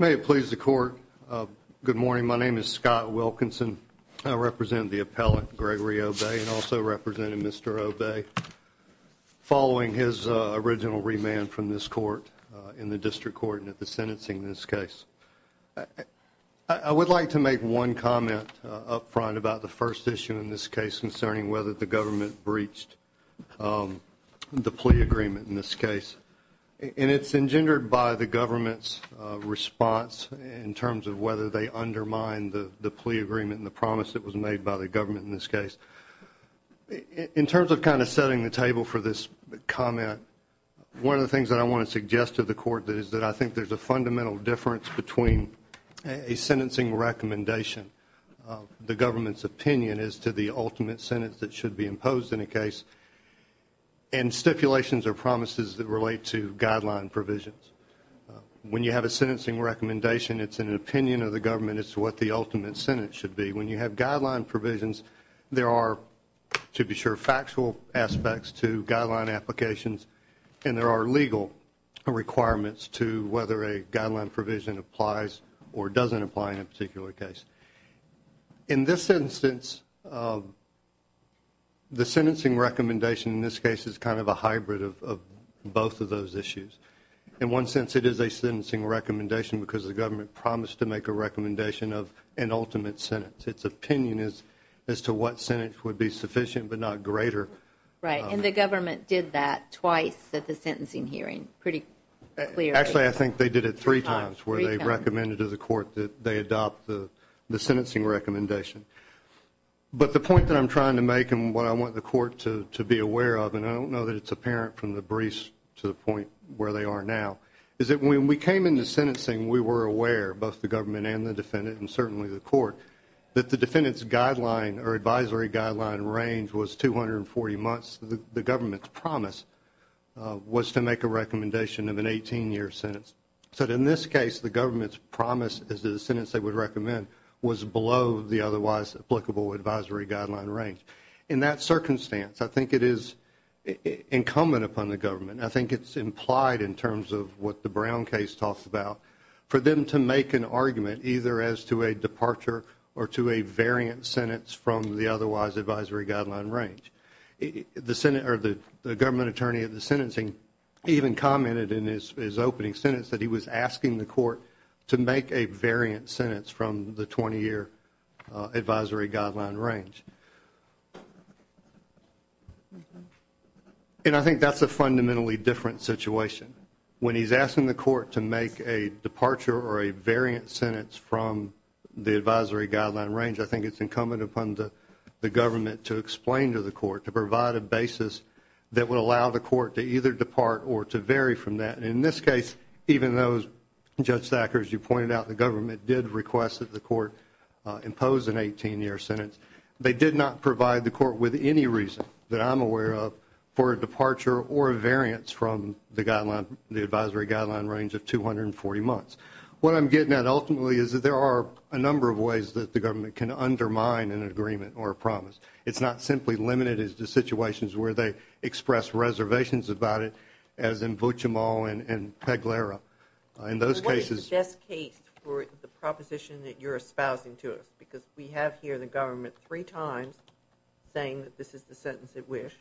May it please the court. Good morning. My name is Scott Wilkinson. I represent the appellate, Gregory Obey, and also represented Mr. Obey following his original remand from this court in the district court and at the sentencing in this case. I would like to make one comment up front about the first issue in this case concerning whether the government breached the plea agreement in this case. And it's engendered by the government's response in terms of whether they undermine the plea agreement and the promise that was made by the government in this case. In terms of kind of setting the table for this comment, one of the things that I want to suggest to the court is that I think there's a fundamental difference between a sentencing recommendation, the government's opinion as to the ultimate sentence that should be imposed in a case, and stipulations or promises that relate to guideline provisions. When you have a sentencing recommendation, it's an opinion of the government as to what the ultimate sentence should be. When you have guideline provisions, there are, to be sure, factual aspects to guideline applications, and there are legal requirements to whether a guideline provision applies or doesn't apply in a particular case. In this instance, the sentencing recommendation in this case is kind of a hybrid of both of those issues. In one sense, it is a sentencing recommendation because the government promised to make a recommendation of an ultimate sentence. Its opinion is as to what sentence would be sufficient but not greater. Right, and the government did that twice at the sentencing hearing pretty clearly. Actually, I think they did it three times where they recommended to the court that they adopt the sentencing recommendation. But the point that I'm trying to make and what I want the court to be aware of, and I don't know that it's apparent from the briefs to the point where they are now, is that when we came into sentencing, we were aware, both the government and the defendant and certainly the court, that the defendant's guideline or advisory guideline range was 240 months. The government's promise was to make a recommendation of an 18-year sentence. So in this case, the government's promise as to the sentence they would recommend was below the otherwise applicable advisory guideline range. In that circumstance, I think it is incumbent upon the government, I think it's implied in terms of what the Brown case talks about, for them to make an argument either as to a departure or to a variant sentence from the otherwise advisory guideline range. The government attorney at the sentencing even commented in his opening sentence that he was asking the court to make a variant sentence from the 20-year advisory guideline range. And I think that's a fundamentally different situation. When he's asking the court to make a departure or a variant sentence from the advisory guideline range, I think it's incumbent upon the government to explain to the court, to provide a basis that would allow the court to either depart or to vary from that. And in this case, even though, Judge Thacker, as you pointed out, the government did request that the court impose an 18-year sentence, they did not provide the court with any reason that I'm aware of for a departure or a variance from the advisory guideline range of 240 months. What I'm getting at ultimately is that there are a number of ways that the government can undermine an agreement or a promise. It's not simply limited to situations where they express reservations about it, as in Buchemal and Peguera. In those cases – What is the best case for the proposition that you're espousing to us? Because we have here the government three times saying that this is the sentence at which.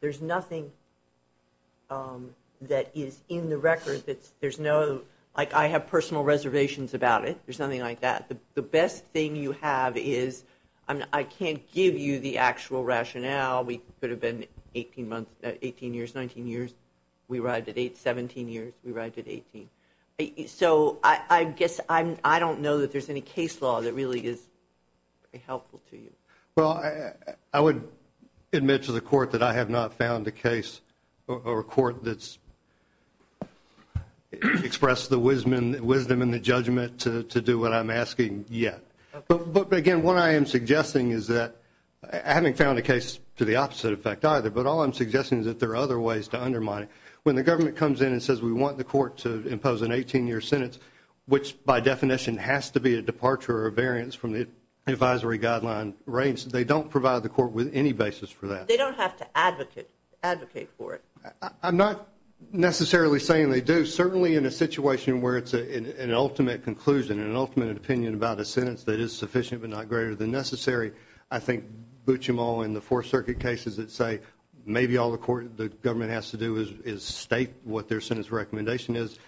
There's nothing that is in the record that's – there's no – like, I have personal reservations about it. There's nothing like that. The best thing you have is – I mean, I can't give you the actual rationale. We could have been 18 months – 18 years, 19 years. We arrived at 17 years. We arrived at 18. So I guess I don't know that there's any case law that really is helpful to you. Well, I would admit to the court that I have not found a case or a court that's expressed the wisdom and the judgment to do what I'm asking yet. But, again, what I am suggesting is that – I haven't found a case to the opposite effect either. But all I'm suggesting is that there are other ways to undermine it. When the government comes in and says we want the court to impose an 18-year sentence, which by definition has to be a departure or a variance from the advisory guideline range, they don't provide the court with any basis for that. They don't have to advocate for it. I'm not necessarily saying they do. Certainly in a situation where it's an ultimate conclusion, an ultimate opinion about a sentence that is sufficient but not greater than necessary, I think butch them all in the Fourth Circuit cases that say maybe all the government has to do is state what their sentence recommendation is.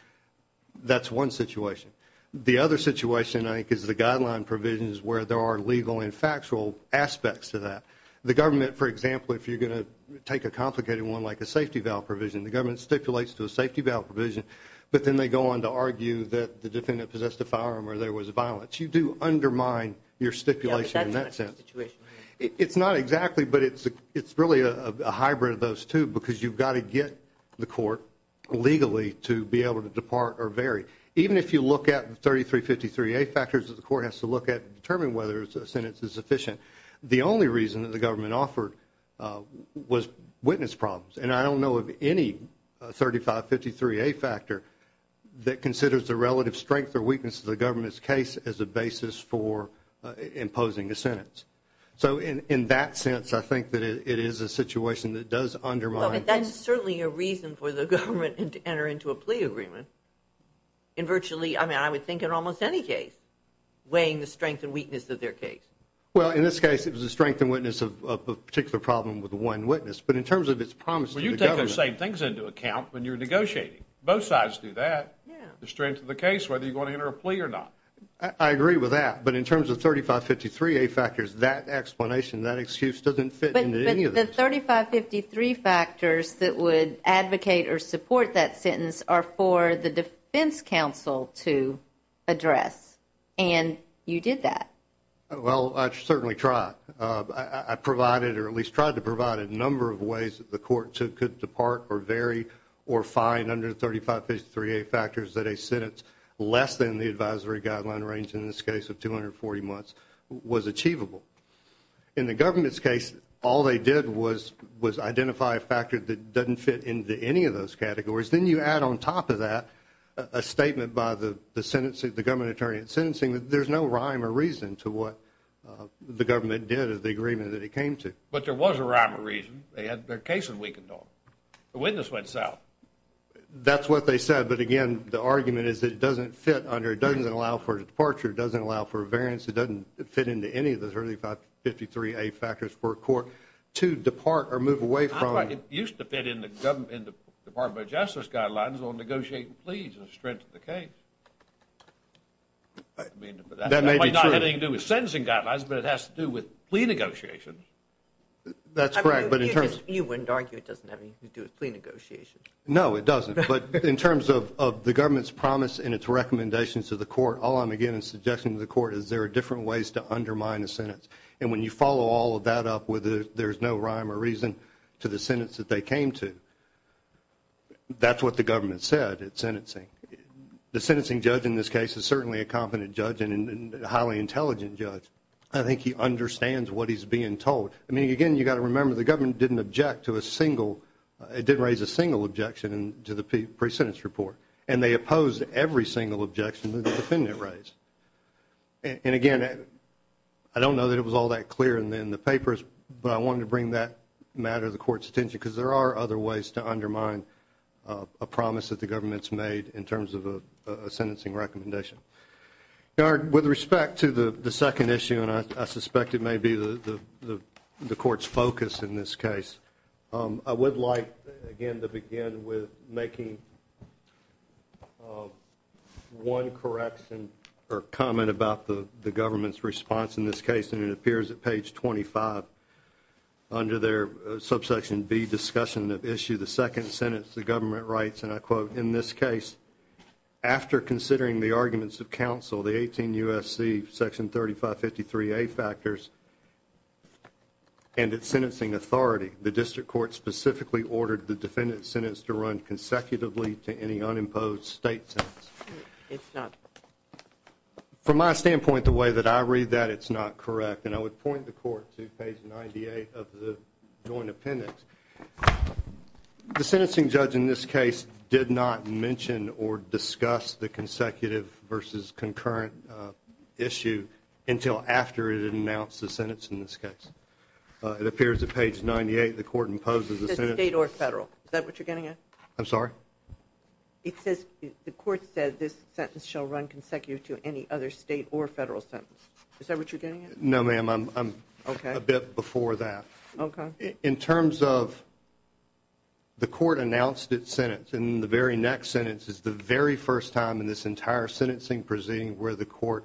That's one situation. The other situation, I think, is the guideline provisions where there are legal and factual aspects to that. The government, for example, if you're going to take a complicated one like a safety valve provision, the government stipulates to a safety valve provision, but then they go on to argue that the defendant possessed a firearm or there was violence. You do undermine your stipulation in that sense. It's not exactly, but it's really a hybrid of those two because you've got to get the court legally to be able to depart or vary. Even if you look at the 3353A factors that the court has to look at to determine whether a sentence is sufficient, the only reason that the government offered was witness problems, and I don't know of any 3553A factor that considers the relative strength or weakness of the government's case as a basis for imposing a sentence. So in that sense, I think that it is a situation that does undermine. That's certainly a reason for the government to enter into a plea agreement in virtually, I mean, I would think in almost any case weighing the strength and weakness of their case. Well, in this case, it was a strength and weakness of a particular problem with one witness, but in terms of its promise to the government. Well, you take those same things into account when you're negotiating. Both sides do that, the strength of the case, whether you're going to enter a plea or not. I agree with that, but in terms of 3553A factors, that explanation, that excuse doesn't fit into any of this. But the 3553 factors that would advocate or support that sentence are for the defense counsel to address, and you did that. Well, I certainly tried. I provided or at least tried to provide a number of ways that the court could depart or vary or find under 3553A factors that a sentence less than the advisory guideline range, in this case of 240 months, was achievable. In the government's case, all they did was identify a factor that doesn't fit into any of those categories. Then you add on top of that a statement by the government attorney in sentencing. There's no rhyme or reason to what the government did as the agreement that it came to. But there was a rhyme or reason. Their case was weakened off. The witness went south. That's what they said. But, again, the argument is it doesn't fit under, it doesn't allow for a departure, it doesn't allow for a variance, it doesn't fit into any of those 3553A factors for a court to depart or move away from. I thought it used to fit in the Department of Justice guidelines on negotiating pleas and strength of the case. That may be true. It might not have anything to do with sentencing guidelines, but it has to do with plea negotiations. That's correct. You wouldn't argue it doesn't have anything to do with plea negotiations. No, it doesn't. But in terms of the government's promise and its recommendations to the court, all I'm again suggesting to the court is there are different ways to undermine a sentence. And when you follow all of that up with there's no rhyme or reason to the sentence that they came to, that's what the government said at sentencing. The sentencing judge in this case is certainly a competent judge and a highly intelligent judge. I think he understands what he's being told. I mean, again, you've got to remember the government didn't object to a single, it didn't raise a single objection to the pre-sentence report, and they opposed every single objection that the defendant raised. And, again, I don't know that it was all that clear in the papers, but I wanted to bring that matter to the court's attention because there are other ways to undermine a promise that the government's made in terms of a sentencing recommendation. With respect to the second issue, and I suspect it may be the court's focus in this case, I would like, again, to begin with making one correction or comment about the government's response in this case, and it appears at page 25 under their subsection B discussion of issue. The second sentence the government writes, and I quote, in this case, after considering the arguments of counsel, the 18 U.S.C. section 3553A factors, and its sentencing authority, the district court specifically ordered the defendant's sentence to run consecutively to any unimposed state sentence. It's not. From my standpoint, the way that I read that, it's not correct. And I would point the court to page 98 of the joint appendix. The sentencing judge in this case did not mention or discuss the consecutive versus concurrent issue until after it announced the sentence in this case. It appears at page 98 the court imposes the sentence. State or federal. Is that what you're getting at? I'm sorry? It says the court said this sentence shall run consecutive to any other state or federal sentence. Is that what you're getting at? No, ma'am. I'm a bit before that. Okay. In terms of the court announced its sentence, and the very next sentence is the very first time in this entire sentencing proceeding where the court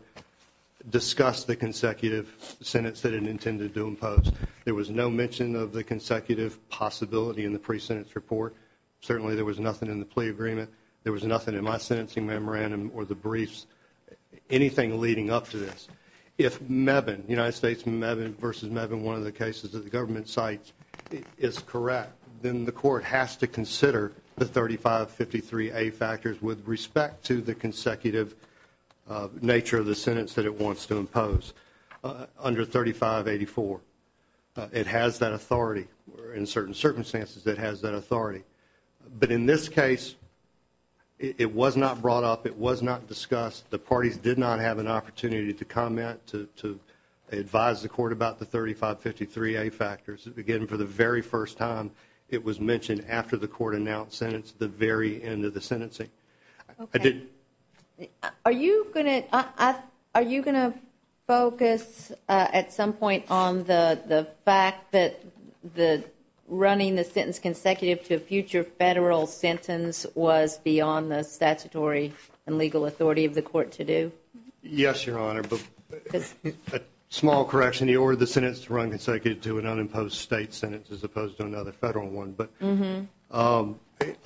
discussed the consecutive sentence that it intended to impose. There was no mention of the consecutive possibility in the pre-sentence report. Certainly there was nothing in the plea agreement. There was nothing in my sentencing memorandum or the briefs. Anything leading up to this. If Mevin, United States Mevin versus Mevin, one of the cases that the government cites, is correct, then the court has to consider the 3553A factors with respect to the consecutive nature of the sentence that it wants to impose under 3584. It has that authority. In certain circumstances, it has that authority. But in this case, it was not brought up. It was not discussed. The parties did not have an opportunity to comment, to advise the court about the 3553A factors. Again, for the very first time, it was mentioned after the court announced the sentence, the very end of the sentencing. Okay. Are you going to focus at some point on the fact that running the sentence consecutive to a future federal sentence was beyond the statutory and legal authority of the court to do? Yes, Your Honor. A small correction, you ordered the sentence to run consecutive to an unimposed state sentence as opposed to another federal one.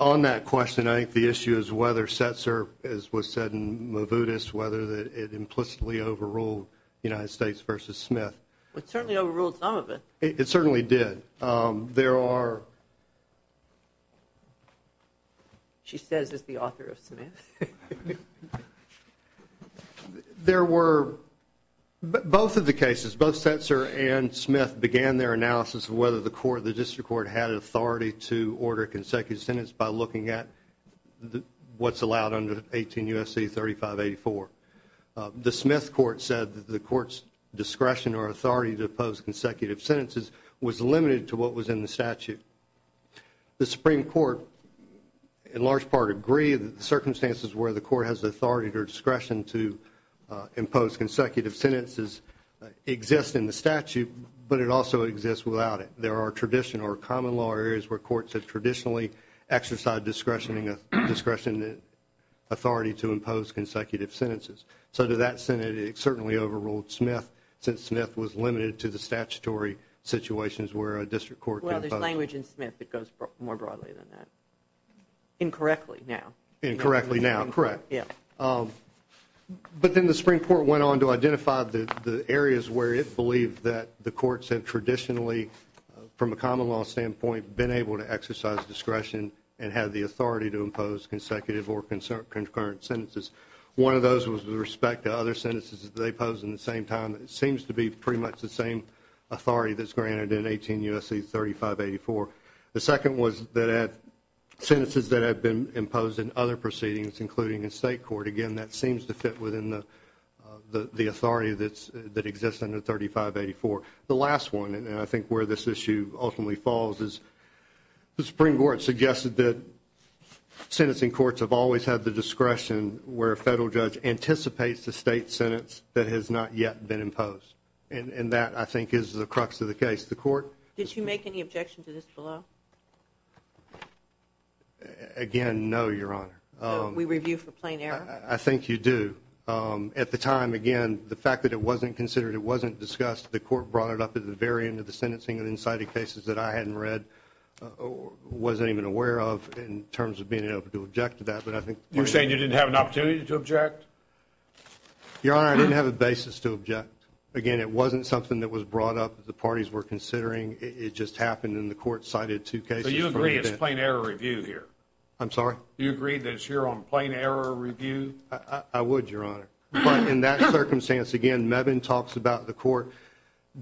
On that question, I think the issue is whether Setzer, as was said in Mavudis, whether it implicitly overruled United States versus Smith. It certainly overruled some of it. It certainly did. There are... She says it's the author of Smith. There were both of the cases. Both Setzer and Smith began their analysis of whether the court, the district court, had authority to order a consecutive sentence by looking at what's allowed under 18 U.S.C. 3584. The Smith court said that the court's discretion or authority to impose consecutive sentences was limited to what was in the statute. The Supreme Court, in large part, agreed that the circumstances where the court has the authority or discretion to impose consecutive sentences exist in the statute, but it also exists without it. There are traditional or common law areas where courts have traditionally exercised discretion and authority to impose consecutive sentences. So to that extent, it certainly overruled Smith since Smith was limited to the statutory situations where a district court can impose... Well, there's language in Smith that goes more broadly than that. Incorrectly now. Incorrectly now, correct. But then the Supreme Court went on to identify the areas where it believed that the courts had traditionally, from a common law standpoint, been able to exercise discretion and had the authority to impose consecutive or concurrent sentences. One of those was with respect to other sentences that they posed in the same time. It seems to be pretty much the same authority that's granted in 18 U.S.C. 3584. The second was that sentences that have been imposed in other proceedings, including in state court, again, that seems to fit within the authority that exists under 3584. The last one, and I think where this issue ultimately falls, the Supreme Court suggested that sentencing courts have always had the discretion where a federal judge anticipates the state sentence that has not yet been imposed, and that, I think, is the crux of the case. The court... Did you make any objection to this below? Again, no, Your Honor. So we review for plain error? I think you do. At the time, again, the fact that it wasn't considered, it wasn't discussed, the court brought it up at the very end of the sentencing and then cited cases that I hadn't read or wasn't even aware of in terms of being able to object to that. But I think... You're saying you didn't have an opportunity to object? Your Honor, I didn't have a basis to object. Again, it wasn't something that was brought up that the parties were considering. It just happened, and the court cited two cases. So you agree it's plain error review here? I'm sorry? You agree that it's here on plain error review? I would, Your Honor. But in that circumstance, again, Mevin talks about the court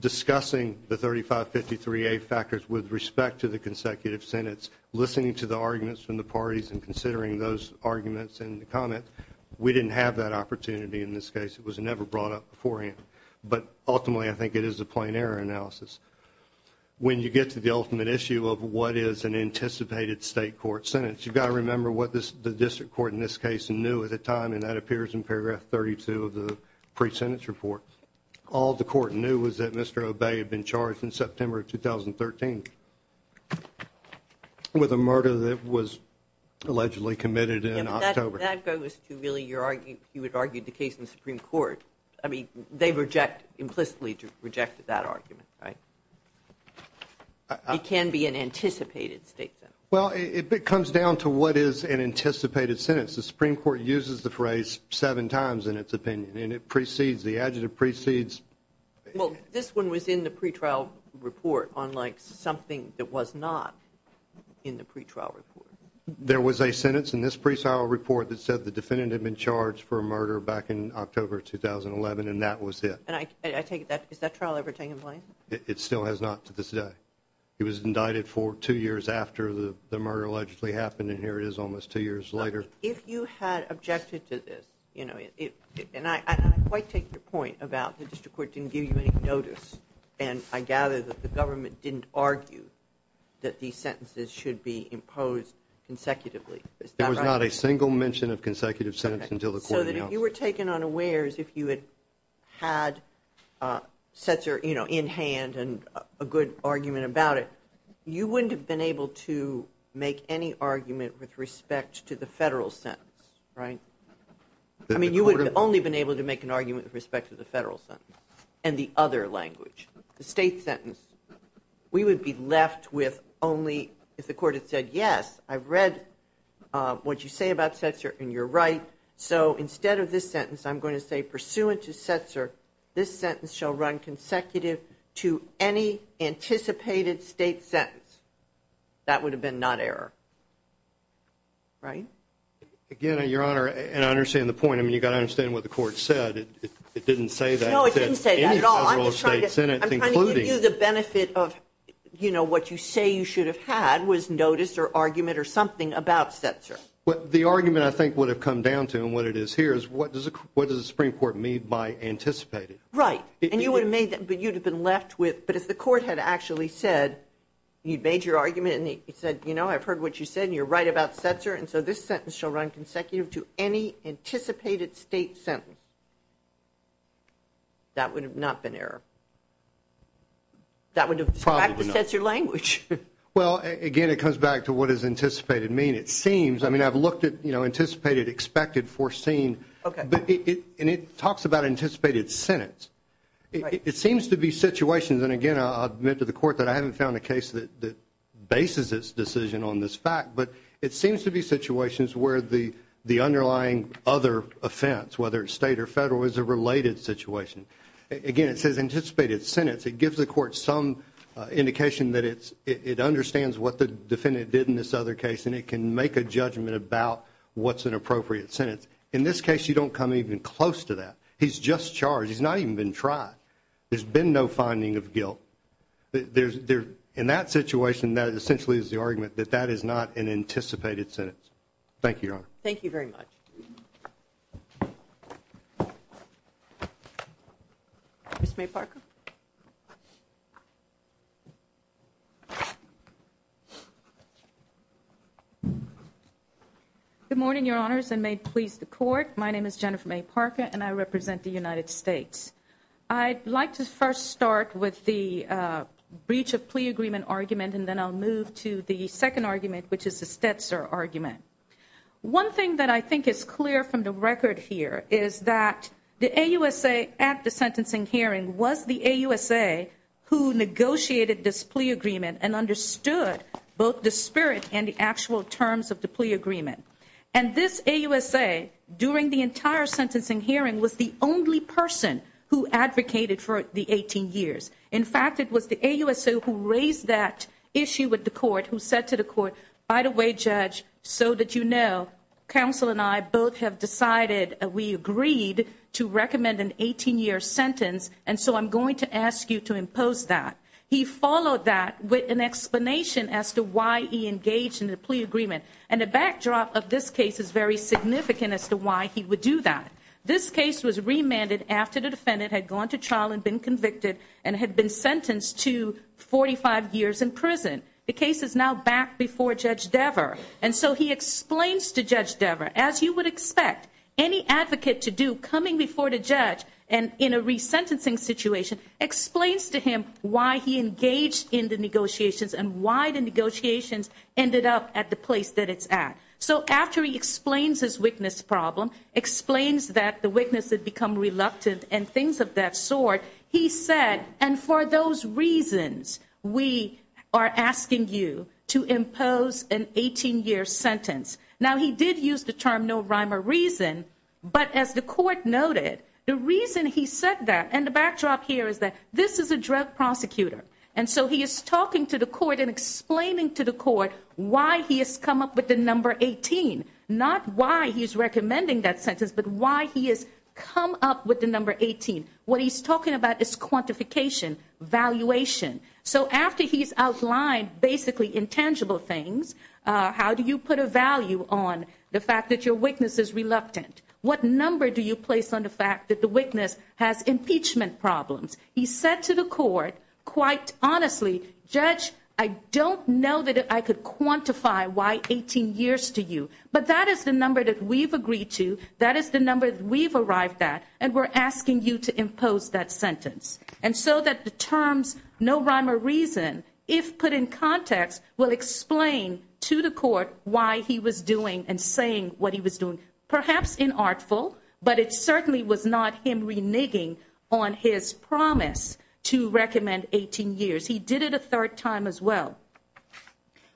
discussing the 3553A factors with respect to the consecutive sentence, listening to the arguments from the parties and considering those arguments in the comment. We didn't have that opportunity in this case. It was never brought up beforehand. But ultimately, I think it is a plain error analysis. When you get to the ultimate issue of what is an anticipated state court sentence, you've got to remember what the district court in this case knew at the time, and that appears in paragraph 32 of the pre-sentence report. All the court knew was that Mr. Obey had been charged in September of 2013 with a murder that was allegedly committed in October. That goes to really your argument. You had argued the case in the Supreme Court. I mean, they implicitly rejected that argument, right? It can be an anticipated state sentence. Well, it comes down to what is an anticipated sentence. The Supreme Court uses the phrase seven times in its opinion, and it precedes, the adjective precedes. Well, this one was in the pre-trial report, unlike something that was not in the pre-trial report. There was a sentence in this pre-trial report that said the defendant had been charged for a murder back in October 2011, and that was it. And I take it that, has that trial ever taken place? It still has not to this day. He was indicted for two years after the murder allegedly happened, and here it is almost two years later. If you had objected to this, and I quite take your point about the district court didn't give you any notice, and I gather that the government didn't argue that these sentences should be imposed consecutively. There was not a single mention of consecutive sentence until the court announced it. So that if you were taken unawares, if you had had in hand a good argument about it, you wouldn't have been able to make any argument with respect to the federal sentence, right? I mean, you would have only been able to make an argument with respect to the federal sentence and the other language. The state sentence, we would be left with only if the court had said, yes, I've read what you say about Setzer and you're right, so instead of this sentence, I'm going to say, pursuant to Setzer, this sentence shall run consecutive to any anticipated state sentence. That would have been not error, right? Again, Your Honor, and I understand the point. I mean, you've got to understand what the court said. It didn't say that. No, it didn't say that at all. I'm just trying to give you the benefit of, you know, what you say you should have had was notice or argument or something about Setzer. Well, the argument I think would have come down to, and what it is here, is what does the Supreme Court mean by anticipated? Right. And you would have been left with, but if the court had actually said, you made your argument and it said, you know, I've heard what you said, and you're right about Setzer, and so this sentence shall run consecutive to any anticipated state sentence, that would have not been error. That would have distracted Setzer language. Well, again, it comes back to what does anticipated mean. It seems, I mean, I've looked at, you know, anticipated, expected, foreseen, and it talks about anticipated sentence. It seems to be situations, and, again, I'll admit to the court that I haven't found a case that bases its decision on this fact, but it seems to be situations where the underlying other offense, whether it's state or federal, is a related situation. Again, it says anticipated sentence. It gives the court some indication that it understands what the defendant did in this other case, and it can make a judgment about what's an appropriate sentence. In this case, you don't come even close to that. He's just charged. He's not even been tried. There's been no finding of guilt. In that situation, that essentially is the argument, that that is not an anticipated sentence. Thank you, Your Honor. Thank you very much. Ms. Mayparka. Good morning, Your Honors, and may it please the Court. My name is Jennifer Mayparka, and I represent the United States. I'd like to first start with the breach of plea agreement argument, and then I'll move to the second argument, which is the Stetzer argument. One thing that I think is clear from the record here is that the AUSA at the sentencing hearing was the AUSA who negotiated this plea agreement and understood both the spirit and the actual terms of the plea agreement. And this AUSA, during the entire sentencing hearing, was the only person who advocated for the 18 years. In fact, it was the AUSA who raised that issue with the court, who said to the court, by the way, Judge, so that you know, counsel and I both have decided we agreed to recommend an 18-year sentence, and so I'm going to ask you to impose that. He followed that with an explanation as to why he engaged in the plea agreement. And the backdrop of this case is very significant as to why he would do that. This case was remanded after the defendant had gone to trial and been convicted and had been sentenced to 45 years in prison. The case is now back before Judge Dever. And so he explains to Judge Dever, as you would expect any advocate to do, coming before the judge and in a resentencing situation, explains to him why he engaged in the negotiations and why the negotiations ended up at the place that it's at. So after he explains his witness problem, explains that the witness had become reluctant and things of that sort, he said, and for those reasons we are asking you to impose an 18-year sentence. Now, he did use the term no rhyme or reason, but as the court noted, the reason he said that, and the backdrop here is that this is a drug prosecutor, and so he is talking to the court and explaining to the court why he has come up with the number 18, not why he's recommending that sentence, but why he has come up with the number 18. What he's talking about is quantification, valuation. So after he's outlined basically intangible things, how do you put a value on the fact that your witness is reluctant? What number do you place on the fact that the witness has impeachment problems? He said to the court, quite honestly, Judge, I don't know that I could quantify why 18 years to you, but that is the number that we've agreed to, that is the number that we've arrived at, and we're asking you to impose that sentence. And so that the terms no rhyme or reason, if put in context, will explain to the court why he was doing and saying what he was doing. Perhaps inartful, but it certainly was not him reneging on his promise to recommend 18 years. He did it a third time as well.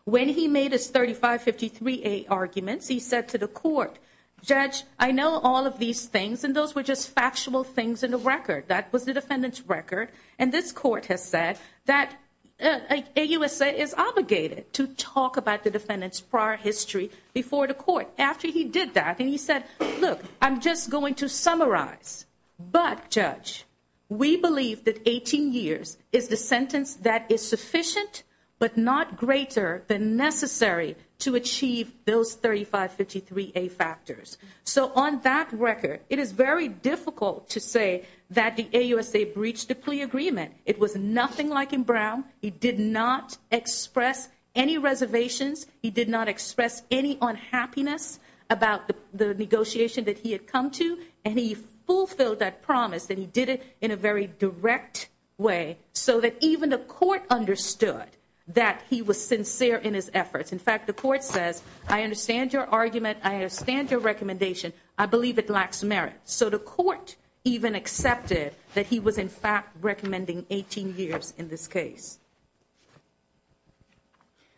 When he made his 3553A arguments, he said to the court, Judge, I know all of these things, and those were just factual things in the record. That was the defendant's record. And this court has said that AUSA is obligated to talk about the defendant's prior history before the court. After he did that, he said, look, I'm just going to summarize. But, Judge, we believe that 18 years is the sentence that is sufficient, but not greater than necessary to achieve those 3553A factors. So on that record, it is very difficult to say that the AUSA breached the plea agreement. It was nothing like in Brown. He did not express any reservations. He did not express any unhappiness about the negotiation that he had come to. And he fulfilled that promise, and he did it in a very direct way, so that even the court understood that he was sincere in his efforts. In fact, the court says, I understand your argument. I understand your recommendation. I believe it lacks merit. So the court even accepted that he was, in fact, recommending 18 years in this case.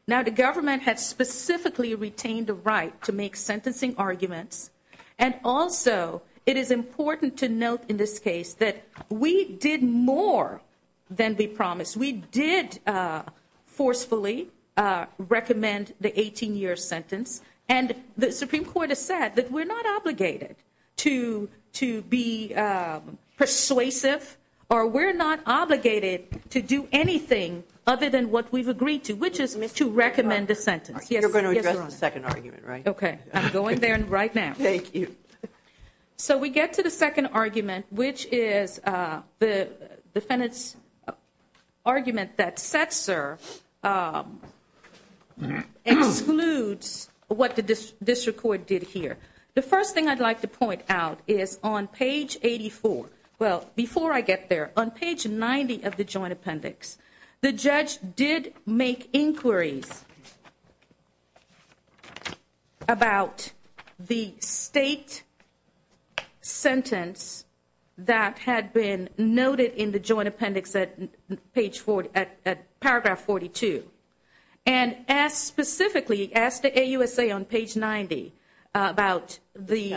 Now, the government had specifically retained the right to make sentencing arguments, and also it is important to note in this case that we did more than be promised. We did forcefully recommend the 18-year sentence, and the Supreme Court has said that we're not obligated to be persuasive or we're not obligated to do anything other than what we've agreed to, which is to recommend a sentence. You're going to address the second argument, right? Okay, I'm going there right now. Thank you. So we get to the second argument, which is the defendant's argument that Setzer excludes what the district court did here. The first thing I'd like to point out is on page 84, well, before I get there, on page 90 of the joint appendix, the judge did make inquiries about the state sentence that had been noted in the joint appendix at paragraph 42, and specifically asked the AUSA on page 90 about the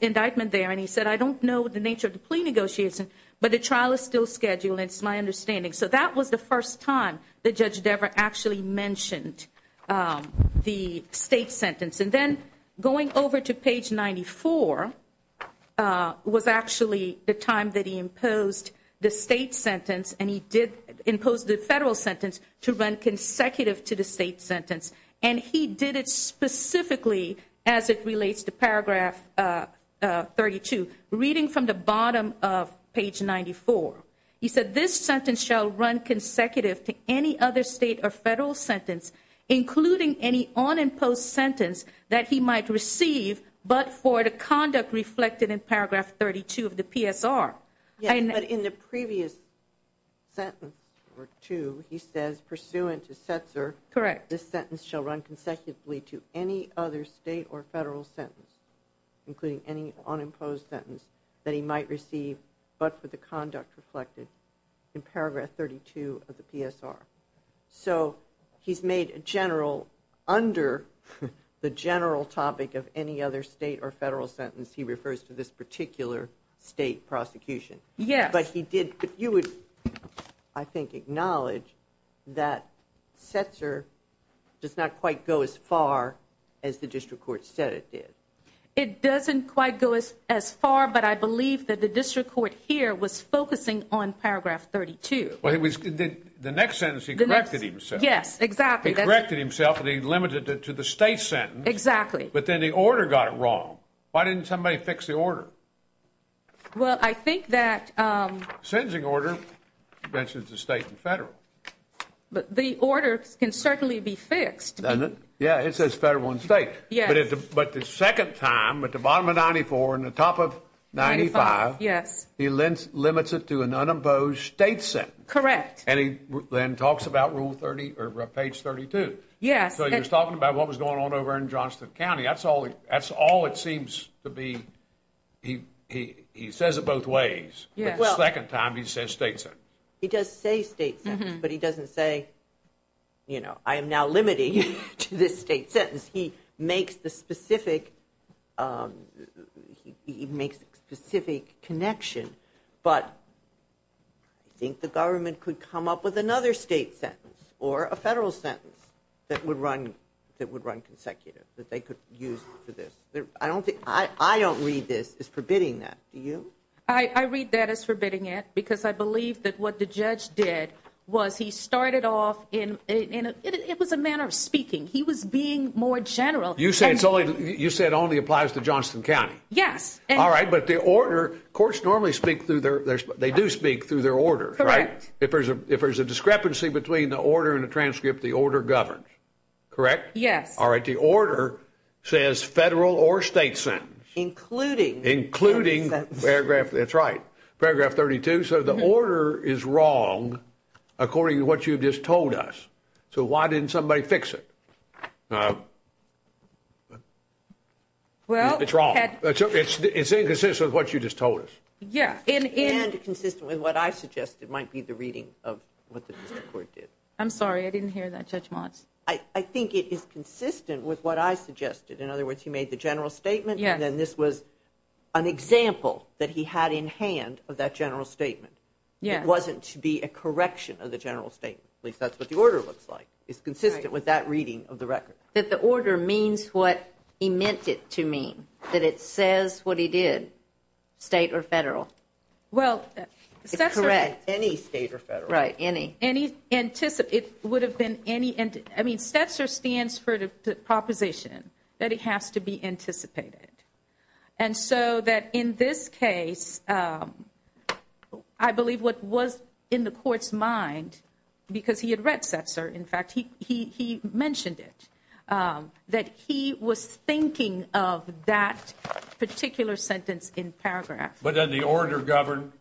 indictment there, and he said, I don't know the nature of the plea negotiation, but the trial is still scheduled. It's my understanding. So that was the first time that Judge Devere actually mentioned the state sentence. And then going over to page 94 was actually the time that he imposed the state sentence and he imposed the federal sentence to run consecutive to the state sentence, and he did it specifically as it relates to paragraph 32, reading from the bottom of page 94. He said, this sentence shall run consecutive to any other state or federal sentence, including any unimposed sentence that he might receive, but for the conduct reflected in paragraph 32 of the PSR. Yes, but in the previous sentence or two, he says, pursuant to Setzer, this sentence shall run consecutively to any other state or federal sentence, including any unimposed sentence that he might receive, but for the conduct reflected in paragraph 32 of the PSR. So he's made a general, under the general topic of any other state or federal sentence, he refers to this particular state prosecution. Yes. But you would, I think, acknowledge that Setzer does not quite go as far as the district court said it did. It doesn't quite go as far, but I believe that the district court here was focusing on paragraph 32. The next sentence he corrected himself. Yes, exactly. He corrected himself and he limited it to the state sentence. Exactly. But then the order got it wrong. Why didn't somebody fix the order? Well, I think that. Sentencing order mentions the state and federal. But the order can certainly be fixed. Doesn't it? Yeah, it says federal and state. Yes. But the second time, at the bottom of 94 and the top of 95. Yes. He limits it to an unimposed state sentence. Correct. And he then talks about rule 30 or page 32. Yes. So he was talking about what was going on over in Johnston County. That's all it seems to be. He says it both ways. Yes. But the second time he says state sentence. He does say state sentence, but he doesn't say, you know, I am now limiting to this state sentence. He makes the specific connection. But I think the government could come up with another state sentence or a federal sentence that would run consecutive. That they could use for this. I don't read this as forbidding that. Do you? I read that as forbidding it because I believe that what the judge did was he started off in. It was a manner of speaking. He was being more general. You said it only applies to Johnston County. Yes. All right. But the order. Courts normally speak through their. They do speak through their order. Correct. If there's a discrepancy between the order and the transcript, the order governs. Correct? Yes. All right. The order says federal or state sentence. Including. Including paragraph. That's right. Paragraph 32. So the order is wrong according to what you've just told us. So why didn't somebody fix it? Well. It's wrong. It's inconsistent with what you just told us. Yeah. And consistent with what I suggested might be the reading of what the district court did. I'm sorry. I didn't hear that, Judge Motz. I think it is consistent with what I suggested. In other words, he made the general statement. Yes. And then this was an example that he had in hand of that general statement. Yes. It wasn't to be a correction of the general statement. At least that's what the order looks like. It's consistent with that reading of the record. That the order means what he meant it to mean. That it says what he did. State or federal. Well. It's correct. Any state or federal. Right. Any. It would have been any. I mean, Stetzer stands for the proposition that it has to be anticipated. And so that in this case, I believe what was in the court's mind. Because he had read Stetzer. In fact, he mentioned it. That he was thinking of that particular sentence in paragraph. But then the order governed.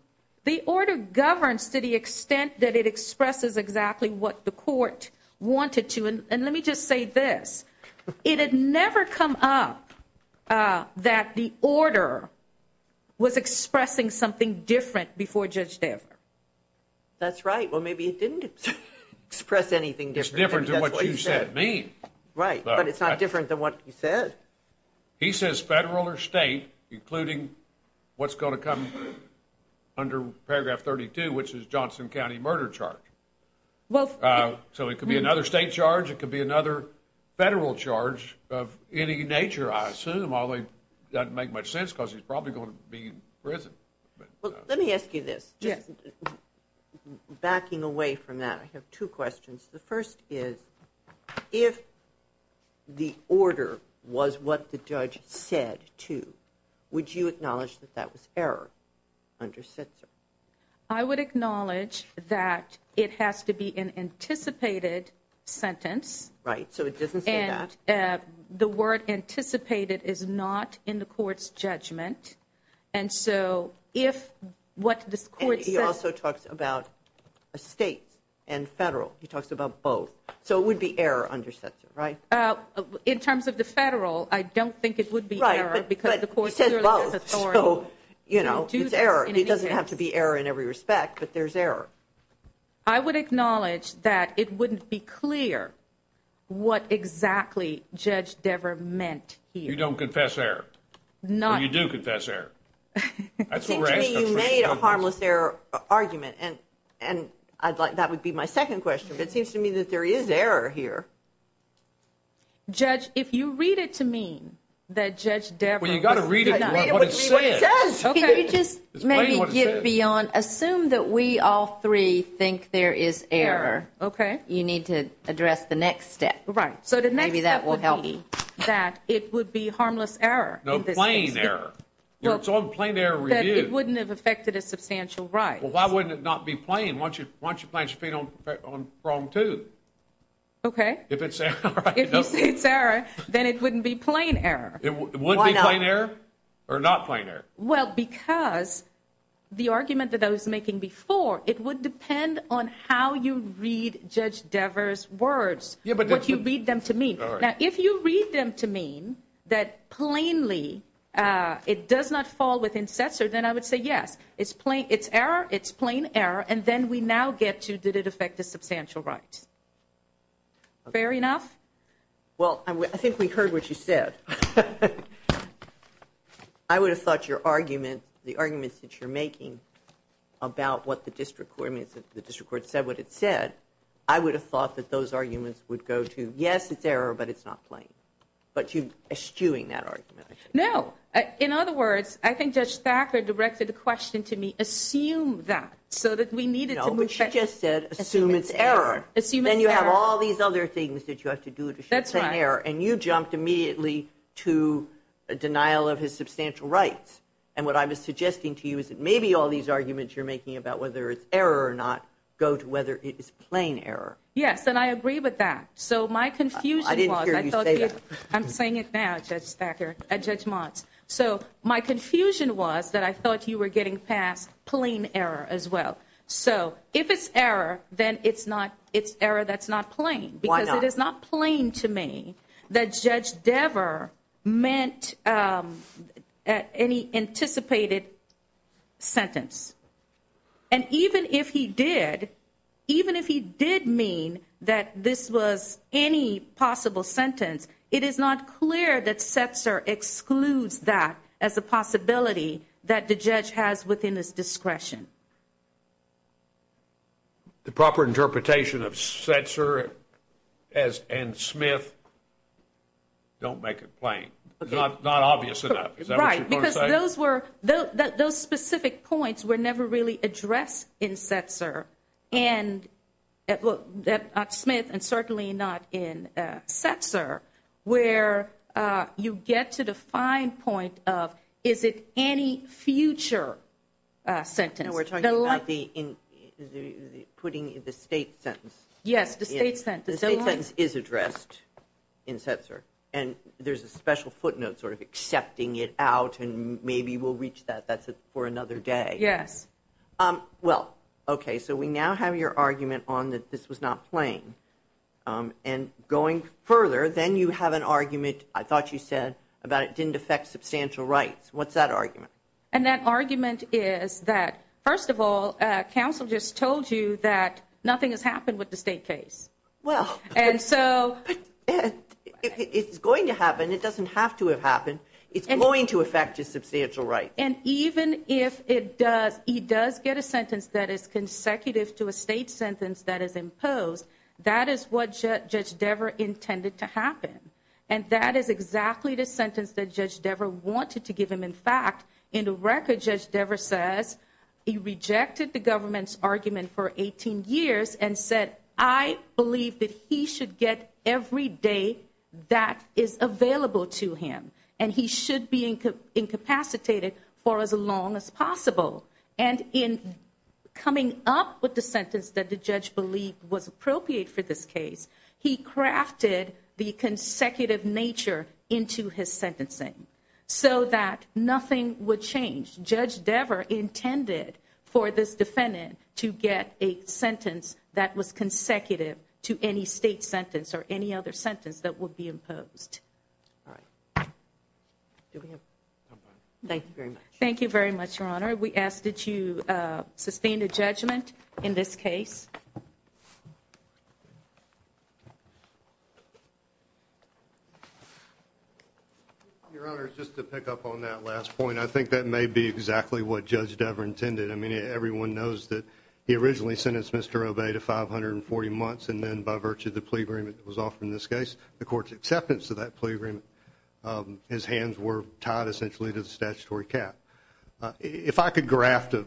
The order governs to the extent that it expresses exactly what the court wanted to. And let me just say this. It had never come up that the order was expressing something different before Judge Dever. That's right. Well, maybe it didn't express anything different. It's different to what you said. Right. But it's not different than what you said. He says federal or state, including what's going to come under paragraph 32, which is Johnson County murder charge. So it could be another state charge. It could be another federal charge of any nature, I assume. Although that doesn't make much sense because he's probably going to be in prison. Well, let me ask you this. Yes. Backing away from that, I have two questions. The first is, if the order was what the judge said to, would you acknowledge that that was error under Sitzer? I would acknowledge that it has to be an anticipated sentence. Right. So it doesn't say that. And the word anticipated is not in the court's judgment. And so if what the court says. And he also talks about a state and federal. He talks about both. So it would be error under Sitzer, right? In terms of the federal, I don't think it would be error. Right. But he says both. So, you know, it's error. It doesn't have to be error in every respect, but there's error. I would acknowledge that it wouldn't be clear what exactly Judge Dever meant here. You don't confess error. No. But you do confess error. It seems to me you made a harmless error argument. And that would be my second question. But it seems to me that there is error here. Judge, if you read it to mean that Judge Dever. Well, you've got to read it to mean what it says. Can you just maybe get beyond. Assume that we all three think there is error. Okay. You need to address the next step. Right. So the next step would be that it would be harmless error. No, plain error. It's all plain error review. That it wouldn't have affected a substantial right. Well, why wouldn't it not be playing? Why don't you? Why don't you plan your feet on wrong too? Okay. If it's error. If it's error, then it wouldn't be plain error. It wouldn't be plain error or not plain error. Well, because the argument that I was making before, it would depend on how you read Judge Dever's words. Yeah, but. What you read them to mean. Now, if you read them to mean that plainly it does not fall within successor, then I would say, yes, it's plain. It's error. It's plain error. And then we now get to, did it affect a substantial right? Fair enough. Well, I think we heard what you said. I would have thought your argument, the arguments that you're making about what the district court said, what it said, I would have thought that those arguments would go to, yes, it's error, but it's not plain. But you're eschewing that argument. No. In other words, I think Judge Thacker directed the question to me, assume that, so that we needed to move. No, but she just said, assume it's error. Assume it's error. Then you have all these other things that you have to do to show plain error. That's right. And you jumped immediately to a denial of his substantial rights. And what I was suggesting to you is that maybe all these arguments you're making about whether it's error or not go to whether it is plain error. Yes, and I agree with that. So my confusion was. I didn't hear you say that. I'm saying it now, Judge Thacker, Judge Motz. So my confusion was that I thought you were getting past plain error as well. So if it's error, then it's error that's not plain. Why not? Because it is not plain to me that Judge Dever meant any anticipated sentence. And even if he did, even if he did mean that this was any possible sentence, it is not clear that Setzer excludes that as a possibility that the judge has within his discretion. The proper interpretation of Setzer and Smith don't make it plain. It's not obvious enough. Is that what you're trying to say? Those specific points were never really addressed in Setzer, at Smith and certainly not in Setzer, where you get to the fine point of is it any future sentence? No, we're talking about putting the state sentence. Yes, the state sentence. The state sentence is addressed in Setzer, and there's a special footnote sort of accepting it out, and maybe we'll reach that. That's for another day. Yes. Well, okay, so we now have your argument on that this was not plain. And going further, then you have an argument, I thought you said, about it didn't affect substantial rights. What's that argument? And that argument is that, first of all, counsel just told you that nothing has happened with the state case. Well, it's going to happen. It doesn't have to have happened. It's going to affect his substantial rights. And even if he does get a sentence that is consecutive to a state sentence that is imposed, that is what Judge Dever intended to happen. And that is exactly the sentence that Judge Dever wanted to give him. In fact, in the record, Judge Dever says he rejected the government's for 18 years and said, I believe that he should get every day that is available to him, and he should be incapacitated for as long as possible. And in coming up with the sentence that the judge believed was appropriate for this case, he crafted the consecutive nature into his sentencing so that nothing would change. Judge Dever intended for this defendant to get a sentence that was consecutive to any state sentence or any other sentence that would be imposed. Thank you very much. Thank you very much, Your Honor. We ask that you sustain a judgment in this case. Your Honor, just to pick up on that last point, I think that may be exactly what Judge Dever intended. I mean, everyone knows that he originally sentenced Mr. Obey to 540 months, and then by virtue of the plea agreement that was offered in this case, the court's acceptance of that plea agreement, his hands were tied essentially to the statutory cap. If I could graft a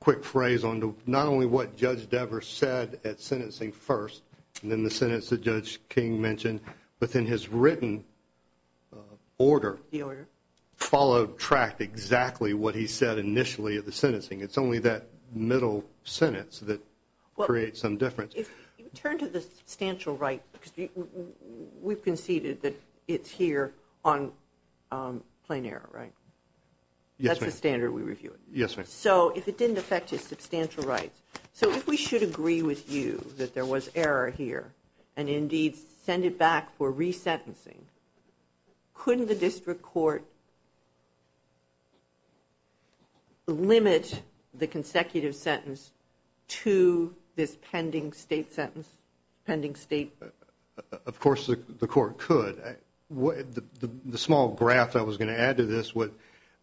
quick phrase onto not only what Judge Dever said at sentencing first and then the sentence that Judge King mentioned, but then his written order followed track exactly what he said initially at the sentencing. It's only that middle sentence that creates some difference. If you turn to the substantial right, because we've conceded that it's here on plain error, right? Yes, ma'am. That's the standard we review it. Yes, ma'am. So if it didn't affect his substantial rights, so if we should agree with you that there was error here and indeed send it back for resentencing, couldn't the district court limit the consecutive sentence to this pending state sentence, pending state? Of course the court could. The small graph I was going to add to this,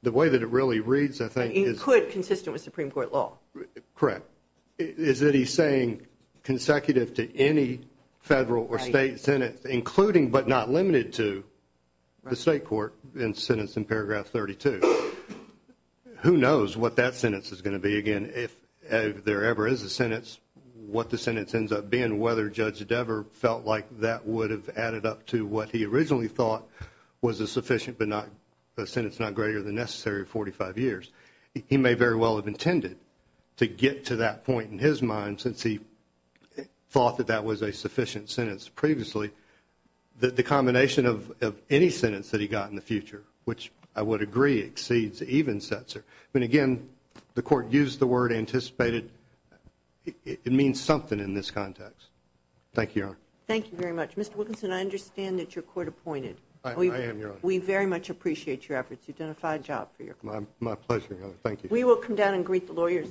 the way that it really reads I think is… It could consistent with Supreme Court law. Correct. Is that he's saying consecutive to any federal or state sentence, including but not limited to the state court in sentence in paragraph 32. Who knows what that sentence is going to be again if there ever is a sentence, what the sentence ends up being, whether Judge Dever felt like that would have added up to what he originally thought was a sufficient but not a sentence not greater than necessary 45 years. He may very well have intended to get to that point in his mind since he thought that that was a sufficient sentence previously. The combination of any sentence that he got in the future, which I would agree exceeds even censor. Again, the court used the word anticipated. It means something in this context. Thank you, Your Honor. Thank you very much. Mr. Wilkinson, I understand that you're court appointed. I am, Your Honor. We very much appreciate your efforts. You've done a fine job for your court. My pleasure, Your Honor. Thank you. We will come down and greet the lawyers